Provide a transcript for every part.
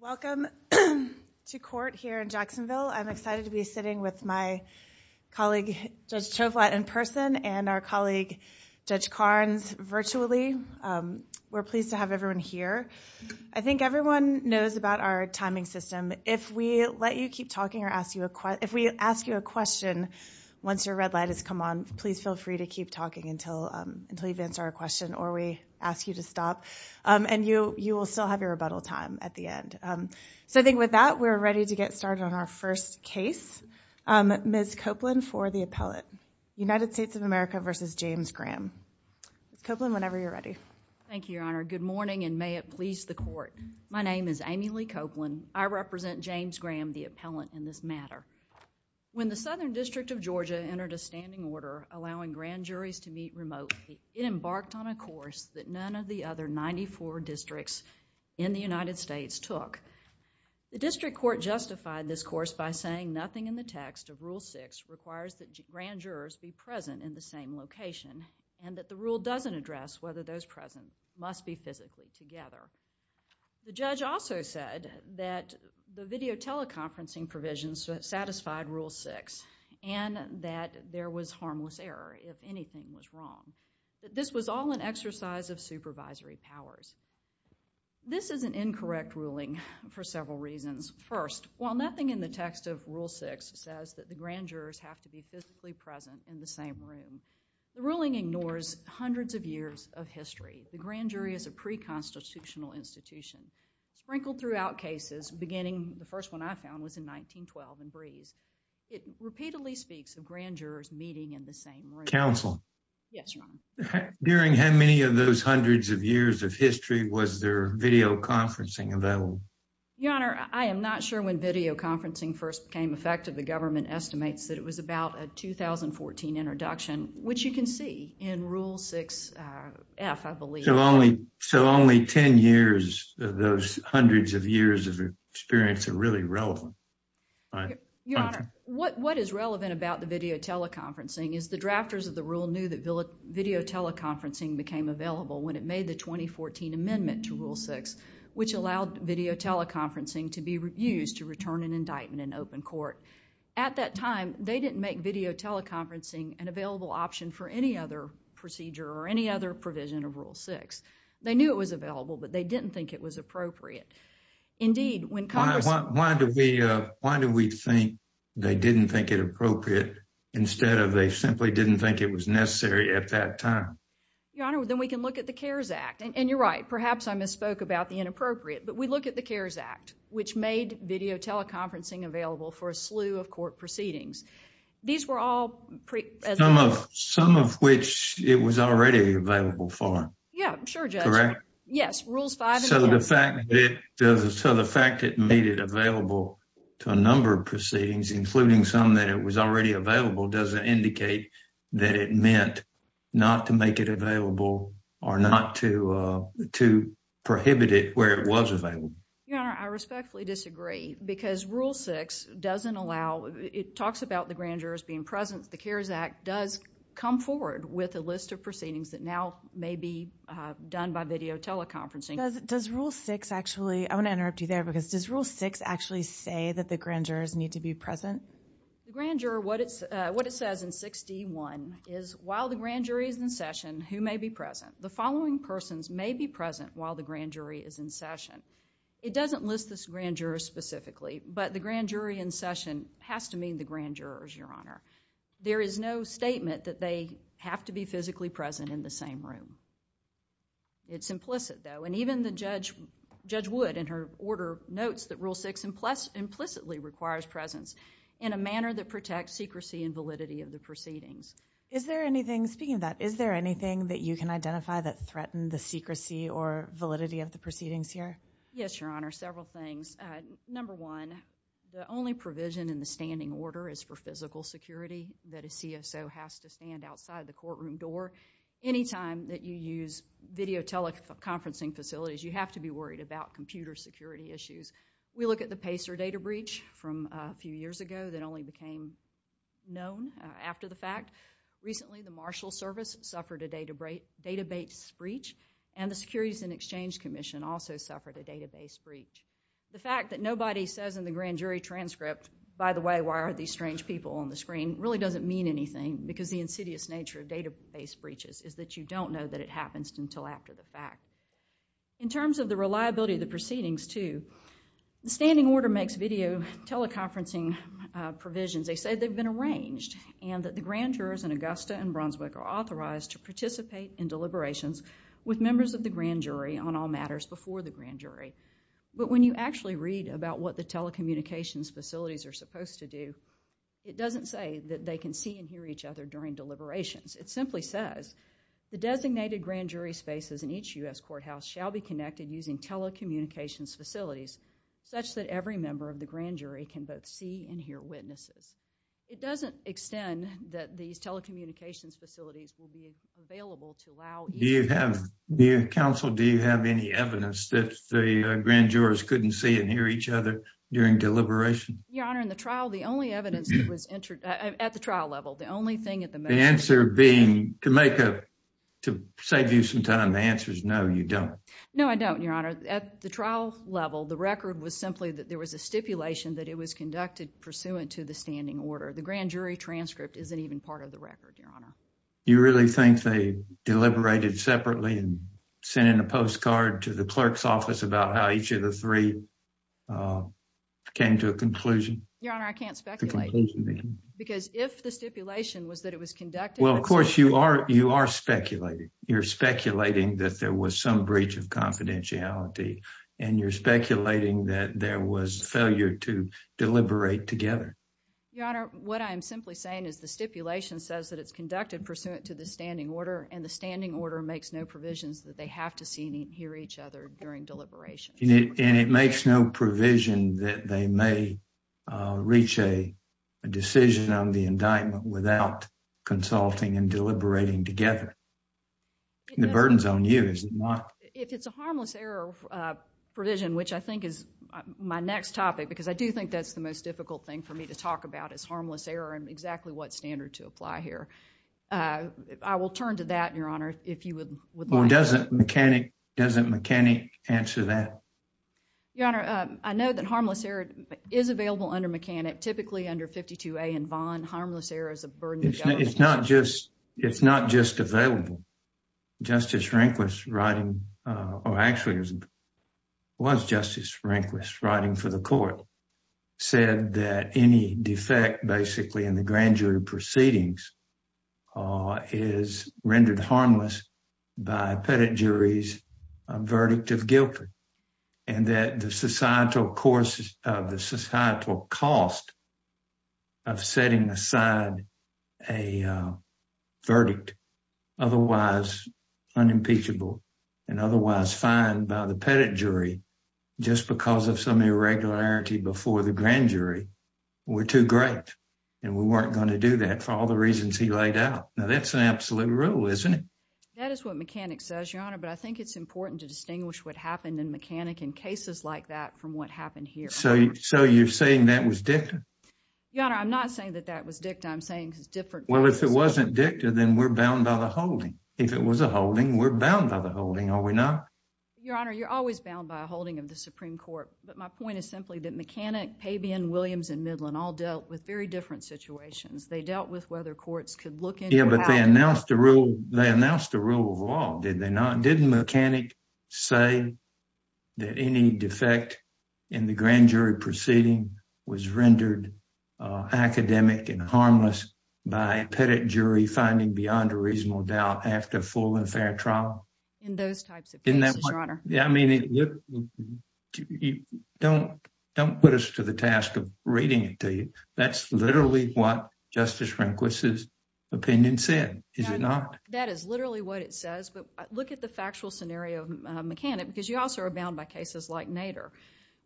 Welcome to court here in Jacksonville. I'm excited to be sitting with my colleague, Judge Tovlat, in person and our colleague, Judge Carnes, virtually. We're pleased to have everyone here. I think everyone knows about our timing system. If we let you keep talking or ask you a question, if we ask you a question once your red light has come on, please feel free to keep talking until you've answered our question or we ask you to stop. You will still have your rebuttal time at the end. I think with that, we're ready to get started on our first case. Ms. Copeland for the appellate. United States of America v. James Graham. Ms. Copeland, whenever you're ready. Thank you, Your Honor. Good morning and may it please the court. My name is Amy Lee Copeland. I represent James Graham, the appellant, in this matter. When the Southern District of Georgia entered a standing order allowing grand juries to meet remotely, it embarked on a course that none of the other ninety-four districts in the United States took. The district court justified this course by saying nothing in the text of Rule 6 requires that grand jurors be present in the same location and that the rule doesn't address whether those present must be physically together. The judge also said that the video teleconferencing provisions satisfied Rule 6 and that there was harmless error if anything was wrong. This was all an exercise of supervisory powers. This is an incorrect ruling for several reasons. First, while nothing in the text of Rule 6 says that the grand jurors have to be physically present in the same room, the ruling ignores hundreds of years of history. The grand jury is a pre-constitutional institution. Sprinkled throughout cases, beginning, the first one I found was in 1912 in Breeze, it repeatedly speaks of grand jurors meeting in the same room. Counsel? Yes, Your Honor. During how many of those hundreds of years of history was there video conferencing available? Your Honor, I am not sure when video conferencing first became effective. The government estimates that it was about a 2014 introduction, which you can see in Rule 6F, I believe. So only ten years of those hundreds of years of experience are really relevant. Your Honor, what is relevant about the video teleconferencing is the drafters of the rule knew that video teleconferencing became available when it made the 2014 amendment to Rule 6, which allowed video teleconferencing to be used to return an indictment in open court. At that time, they didn't make video teleconferencing an available option for any other procedure or any other provision of Rule 6. They knew it was available, but they didn't think it was appropriate. Indeed, when Congress... Why do we think they didn't think it appropriate instead of they simply didn't think it was necessary at that time? Your Honor, then we can look at the CARES Act, and you're right. Perhaps I misspoke about the inappropriate, but we look at the CARES Act, which made video teleconferencing available for a slew of court proceedings. These were all... Some of which it was already available for. Yeah, I'm sure, Judge. Correct? Yes, Rules 5 and 6. So the fact that it made it available to a number of proceedings, including some that it was already available, doesn't indicate that it meant not to make it available or not to prohibit it where it was available. Your Honor, I respectfully disagree because Rule 6 doesn't allow... It talks about the grand jurors being present. The CARES Act does come forward with a list of proceedings that now may be done by video teleconferencing. Does Rule 6 actually... I want to interrupt you there because does Rule 6 actually say that the grand jurors need to be present? The grand juror, what it says in 61 is, while the grand jury is in session, who may be present? The following persons may be present while the grand jury is in session. It doesn't list this grand juror specifically, but the grand jury in session has to mean the grand jurors, Your Honor. There is no statement that they have to be physically present in the same room. It's implicit, though, and even the Judge Wood, in her order, notes that Rule 6 implicitly requires presence in a manner that protects secrecy and validity of the proceedings. Is there anything, speaking of that, is there anything that you can identify that threatened the secrecy or validity of the proceedings here? Yes, Your Honor, several things. Number one, the only provision in the standing order is for physical security, that a CSO has to stand outside the courtroom door. Anytime that you use video teleconferencing facilities, you have to be worried about computer security issues. We look at the Pacer data breach from a few years ago that only became known after the fact. Recently, the Marshal Service suffered a database breach, and the Securities and Exchange Commission also suffered a database breach. The fact that nobody says in the grand jury transcript, by the way, why are these strange people on the screen, really doesn't mean anything, because the insidious nature of database breaches is that you don't know that it happens until after the fact. In terms of the reliability of the proceedings, too, the standing order makes video teleconferencing provisions. They say they've been arranged, and that the grand jurors in Augusta and Brunswick are authorized to participate in deliberations with members of the grand jury on all matters before the grand jury. But when you actually read about what the telecommunications facilities are supposed to do, it doesn't say that they can see and hear each other during deliberations. It simply says, the designated grand jury spaces in each U.S. courthouse shall be connected using telecommunications facilities such that every member of the grand jury can both see and hear witnesses. It doesn't extend that these telecommunications facilities will be available to allow- Do you have, counsel, do you have any evidence that the grand jurors couldn't see and hear each other during deliberation? Your Honor, in the trial, the only evidence that was entered at the trial level, the only thing at the- The answer being, to make a, to save you some time, the answer is no, you don't. No, I don't, Your Honor. At the trial level, the record was simply that there was a stipulation that it was conducted pursuant to the standing order. The grand jury transcript isn't even part of the record, Your Honor. You really think they deliberated separately and sent in a postcard to the clerk's office about how each of the three came to a conclusion? Your Honor, I can't speculate. Because if the stipulation was that it was conducted- Well, of course, you are, you are speculating. You're speculating that there was some breach of confidentiality, and you're speculating that there was failure to deliberate together. Your Honor, what I'm simply saying is the stipulation says that it's conducted pursuant to the standing order, and the standing order makes no provisions that they have to see and hear each other during deliberation. And it makes no provision that they may reach a decision on the indictment without consulting and deliberating together. The burden's on you, is it not? If it's a harmless error provision, which I think is my next topic, because I do think that's the most difficult thing for me to talk about, is harmless error and exactly what standard to apply here. I will turn to that, Your Honor, if you would like- Or doesn't mechanic, doesn't mechanic answer that? Your Honor, I know that harmless error is available under mechanic, typically under 52A and Vaughn. Harmless error is a burden- It's not just available. Justice Rehnquist writing, or actually it was Justice Rehnquist writing for the court, said that any defect basically in the grand jury proceedings is by pettit jury's verdict of guilt, and that the societal cost of setting aside a verdict otherwise unimpeachable and otherwise fined by the pettit jury just because of some irregularity before the grand jury were too great, and we weren't going to do that for all the reasons he laid out. Now, that's an absolute rule, isn't it? That is what mechanic says, Your Honor, but I think it's important to distinguish what happened in mechanic in cases like that from what happened here. So you're saying that was dicta? Your Honor, I'm not saying that that was dicta. I'm saying it's different- Well, if it wasn't dicta, then we're bound by the holding. If it was a holding, we're bound by the holding, are we not? Your Honor, you're always bound by a holding of the Supreme Court, but my point is simply that mechanic, Pabian, Williams, and Midland all dealt with very different situations. They dealt with whether courts could look into- Yeah, but they announced the rule of law, did they not? Didn't mechanic say that any defect in the grand jury proceeding was rendered academic and harmless by a pettit jury finding beyond a reasonable doubt after a full and fair trial? In those types of cases, Your Honor. Yeah, I mean, don't put us to the task of reading it to you. That's literally what Justice Franklin's opinion said, is it not? That is literally what it says, but look at the factual scenario of mechanic because you also are bound by cases like Nader.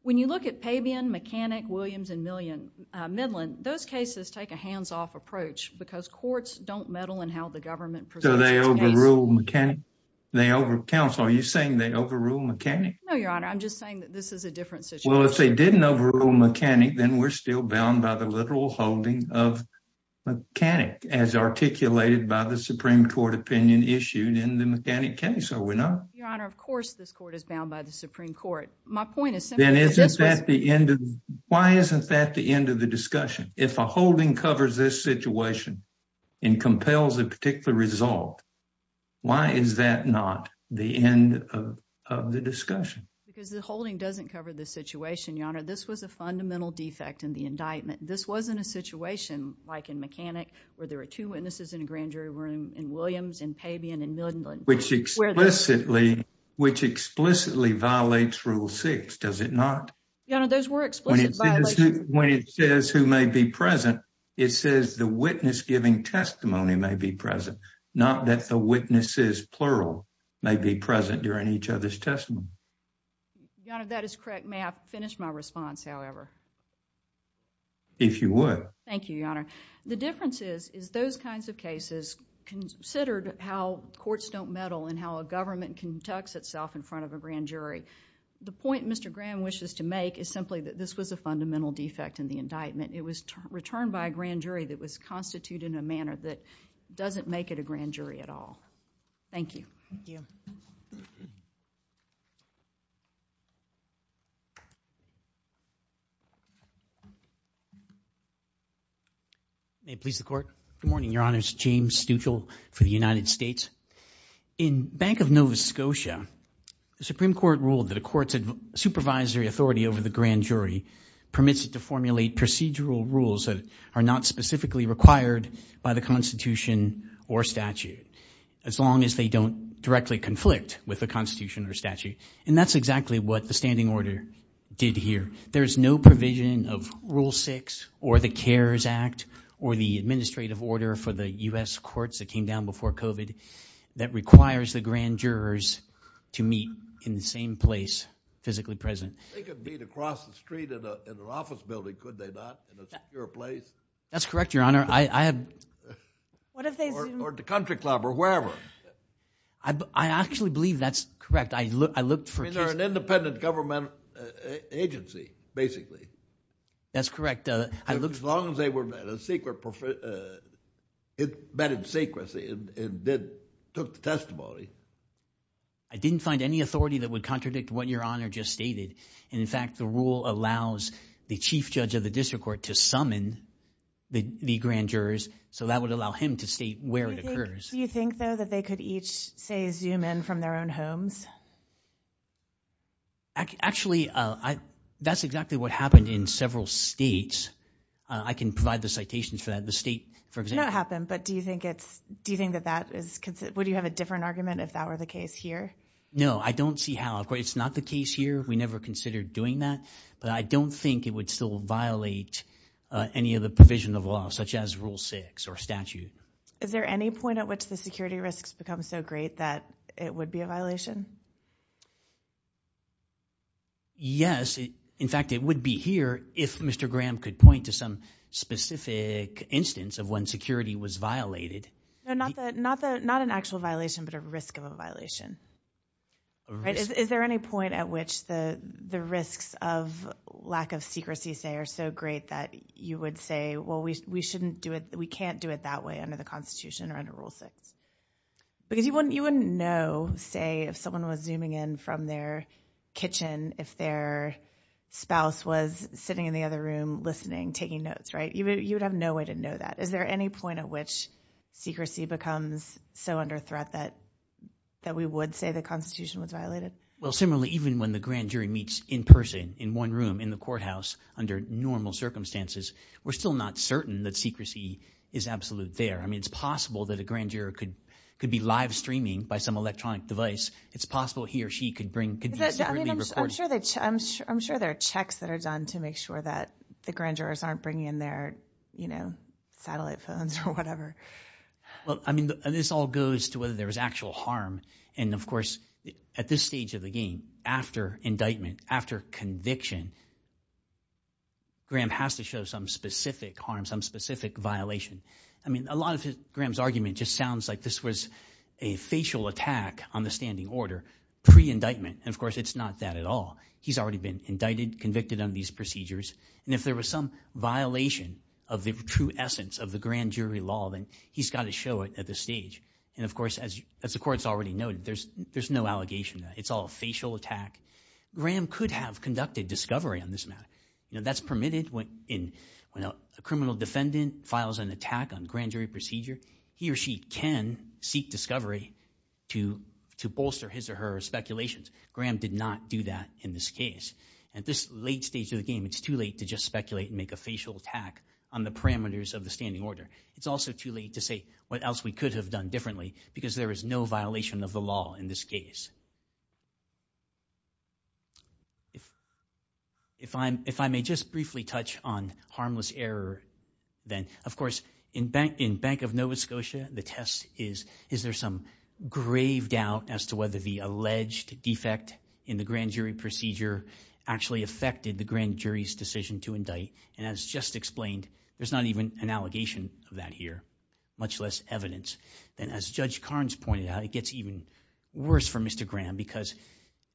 When you look at Pabian, mechanic, Williams, and Midland, those cases take a hands-off approach because courts don't meddle in how the government preserves its case. So they overruled mechanic? Counsel, are you saying they overruled mechanic? No, Your Honor. I'm just saying that this is a different situation. Well, if they didn't overrule mechanic, then we're still bound by the literal holding of mechanic as articulated by the Supreme Court opinion issued in the mechanic case, are we not? Your Honor, of course this court is bound by the Supreme Court. My point is simply that this was- Then isn't that the end of- Why isn't that the end of the discussion? If a holding covers this situation and compels a particular result, why is that not the end of the discussion? Because the holding doesn't cover the situation, Your Honor. This was a fundamental defect in the indictment. This wasn't a situation like in mechanic where there were two witnesses in a grand jury room in Williams and Pabian and Midland. Which explicitly violates Rule 6, does it not? Your Honor, those were explicit violations. When it says who may be present, it says the witness giving testimony may be present, not that the witnesses, plural, may be present during each other's testimony. Your Honor, that is correct. May I finish my response, however? If you would. Thank you, Your Honor. The difference is, is those kinds of cases considered how courts don't meddle and how a government conducts itself in front of a grand jury. The point Mr. Graham wishes to make is simply that this was a fundamental defect in the indictment. It was returned by a grand jury that was constituted in a manner that doesn't make it a grand jury at all. Thank you. Thank you. May it please the Court. Good morning, Your Honors. James Stuchel for the United States. In Bank of Nova Scotia, the Supreme Court ruled that a court's supervisory authority over the grand jury permits it to formulate procedural rules that are not specifically required by the Constitution or statute, as long as they don't directly conflict with the Constitution or statute. And that's exactly what the standing order did here. There's no provision of Rule 6 or the CARES Act or the administrative order for the U.S. courts that came down before COVID that requires the grand jurors to meet in the same place physically present. They could meet across the street in an office building, could they not, in a secure place? That's correct, Your Honor. I have... Or at the country club or wherever. I actually believe that's correct. I looked for... I mean, they're an independent government agency, basically. That's correct. I looked... As long as they were met in secrecy and took the testimony. I didn't find any authority that would contradict what Your Honor just stated. In fact, the grand jurors, so that would allow him to state where it occurs. Do you think, though, that they could each, say, zoom in from their own homes? Actually, that's exactly what happened in several states. I can provide the citations for that. The state, for example... It did not happen, but do you think that that is... Would you have a different argument if that were the case here? No, I don't see how. It's not the case here. We never considered doing that, but I don't think it would still violate any of the provision of law, such as Rule 6 or statute. Is there any point at which the security risks become so great that it would be a violation? Yes. In fact, it would be here if Mr. Graham could point to some specific instance of when security was violated. No, not an actual violation, but a risk of a violation. A risk. Is there any point at which the risks of lack of secrecy, say, are so great that you would say, well, we can't do it that way under the Constitution or under Rule 6? Because you wouldn't know, say, if someone was zooming in from their kitchen, if their spouse was sitting in the other room listening, taking notes, right? You would have no way to know that. Is there any point at which secrecy becomes so under threat that we would say the Constitution was violated? Well, similarly, even when the grand jury meets in person, in one room, in the courthouse, under normal circumstances, we're still not certain that secrecy is absolutely there. I mean, it's possible that a grand juror could be live streaming by some electronic device. It's possible he or she could be secretly recording. I'm sure there are checks that are done to make sure that the grand jurors aren't bringing in their, you know, satellite phones or whatever. Well, I mean, this all goes to whether there was actual harm. And, of course, at this stage of the game, after indictment, after conviction, Graham has to show some specific harm, some specific violation. I mean, a lot of Graham's argument just sounds like this was a facial attack on the standing order pre-indictment. And, of course, it's not that at all. He's already been indicted, convicted on these procedures. And if there was some violation of the true essence of the grand jury law, then he's got to show it at this stage. And, of course, as the court's already noted, there's no allegation. It's all a facial attack. Graham could have conducted discovery on this matter. You know, that's permitted when a criminal defendant files an attack on grand jury procedure. He or she can seek discovery to bolster his or her speculations. Graham did not do that in this case. At this late stage of the game, it's too late to just speculate and make a facial attack on the parameters of the standing order. It's also too late to say what else we could have done differently because there is no violation of the law in this case. If I may just briefly touch on harmless error, then, of course, in Bank of Nova Scotia, the test is, is there some grave doubt as to whether the alleged defect in the grand jury procedure actually affected the grand jury's decision to indict? And as just explained, there's not even an allegation of that here, much less evidence. And as Judge Carnes pointed out, it gets even worse for Mr. Graham because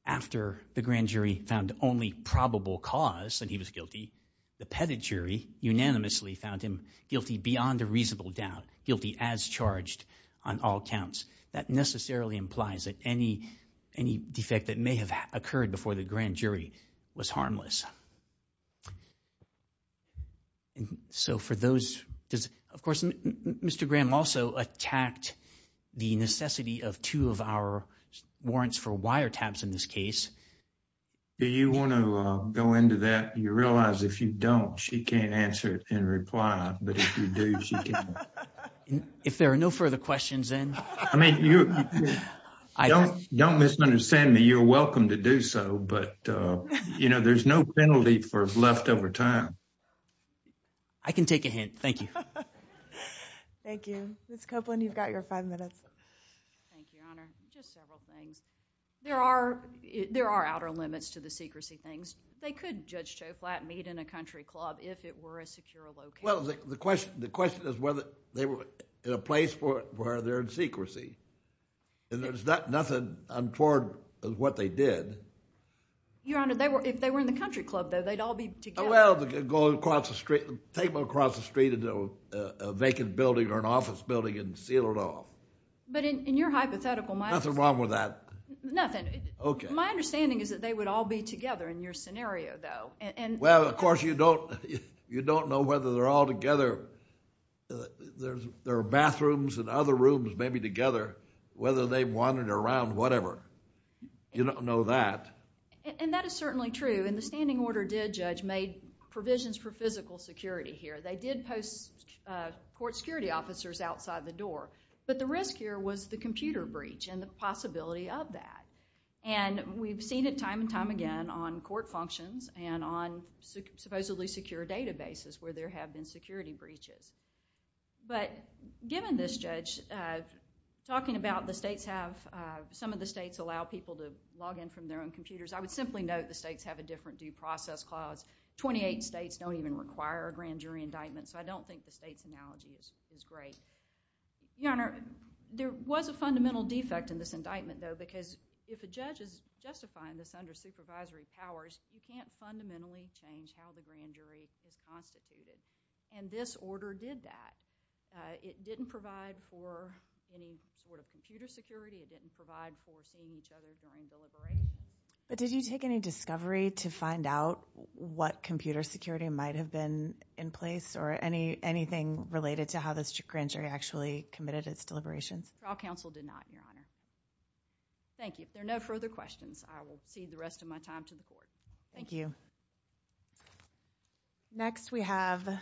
after the grand jury found only probable cause that he was guilty, the petit jury unanimously found him guilty beyond a reasonable doubt, guilty as charged on all counts. That necessarily implies that any, any defect that may have occurred before the grand jury was harmless. So, for those, of course, Mr. Graham also attacked the necessity of two of our warrants for wiretaps in this case. Do you want to go into that? You realize if you don't, she can't answer it in reply, but if you do, she can. If there are no further questions, then. I mean, you don't misunderstand me. You're welcome to do so. But, you know, there's no penalty for leftover time. I can take a hint. Thank you. Thank you. Ms. Copeland, you've got your five minutes. Thank you, Your Honor. Just several things. There are, there are outer limits to the secrecy things. They could, Judge Choplat, meet in a country club if it were a secure location. Well, the question, the question is whether they were in a place where they're in secrecy. And there's nothing untoward of what they did. Your Honor, if they were in the country club, though, they'd all be together. Well, go across the street, take them across the street into a vacant building or an office building and seal it off. But in your hypothetical, my understanding. Nothing wrong with that. Nothing. Okay. My understanding is that they would all be together in your scenario, though. Well, of course, you don't, you don't know whether they're all together. There are bathrooms and other rooms maybe together. Whether they wandered around, whatever. You don't know that. And that is certainly true. And the standing order did, Judge, made provisions for physical security here. They did post court security officers outside the door. But the risk here was the computer breach and the possibility of that. And we've seen it time and time again on court functions and on supposedly secure databases where there have been security breaches. But given this, Judge, talking about the states have, some of the states allow people to log in from their own computers, I would simply note the states have a different due process clause. Twenty-eight states don't even require a grand jury indictment. So I don't think the state's analogy is great. Your Honor, there was a fundamental defect in this indictment, though, because if a judge is justifying this under supervisory powers, you can't fundamentally change how the grand jury is constituted. And this order did that. It didn't provide for any sort of computer security. It didn't provide for seeing each other during deliberations. But did you take any discovery to find out what computer security might have been in place or anything related to how this grand jury actually committed its deliberations? Trial counsel did not, Your Honor. Thank you. If there are no further questions, I will cede the rest of my time to the Court. Thank you. Next we have...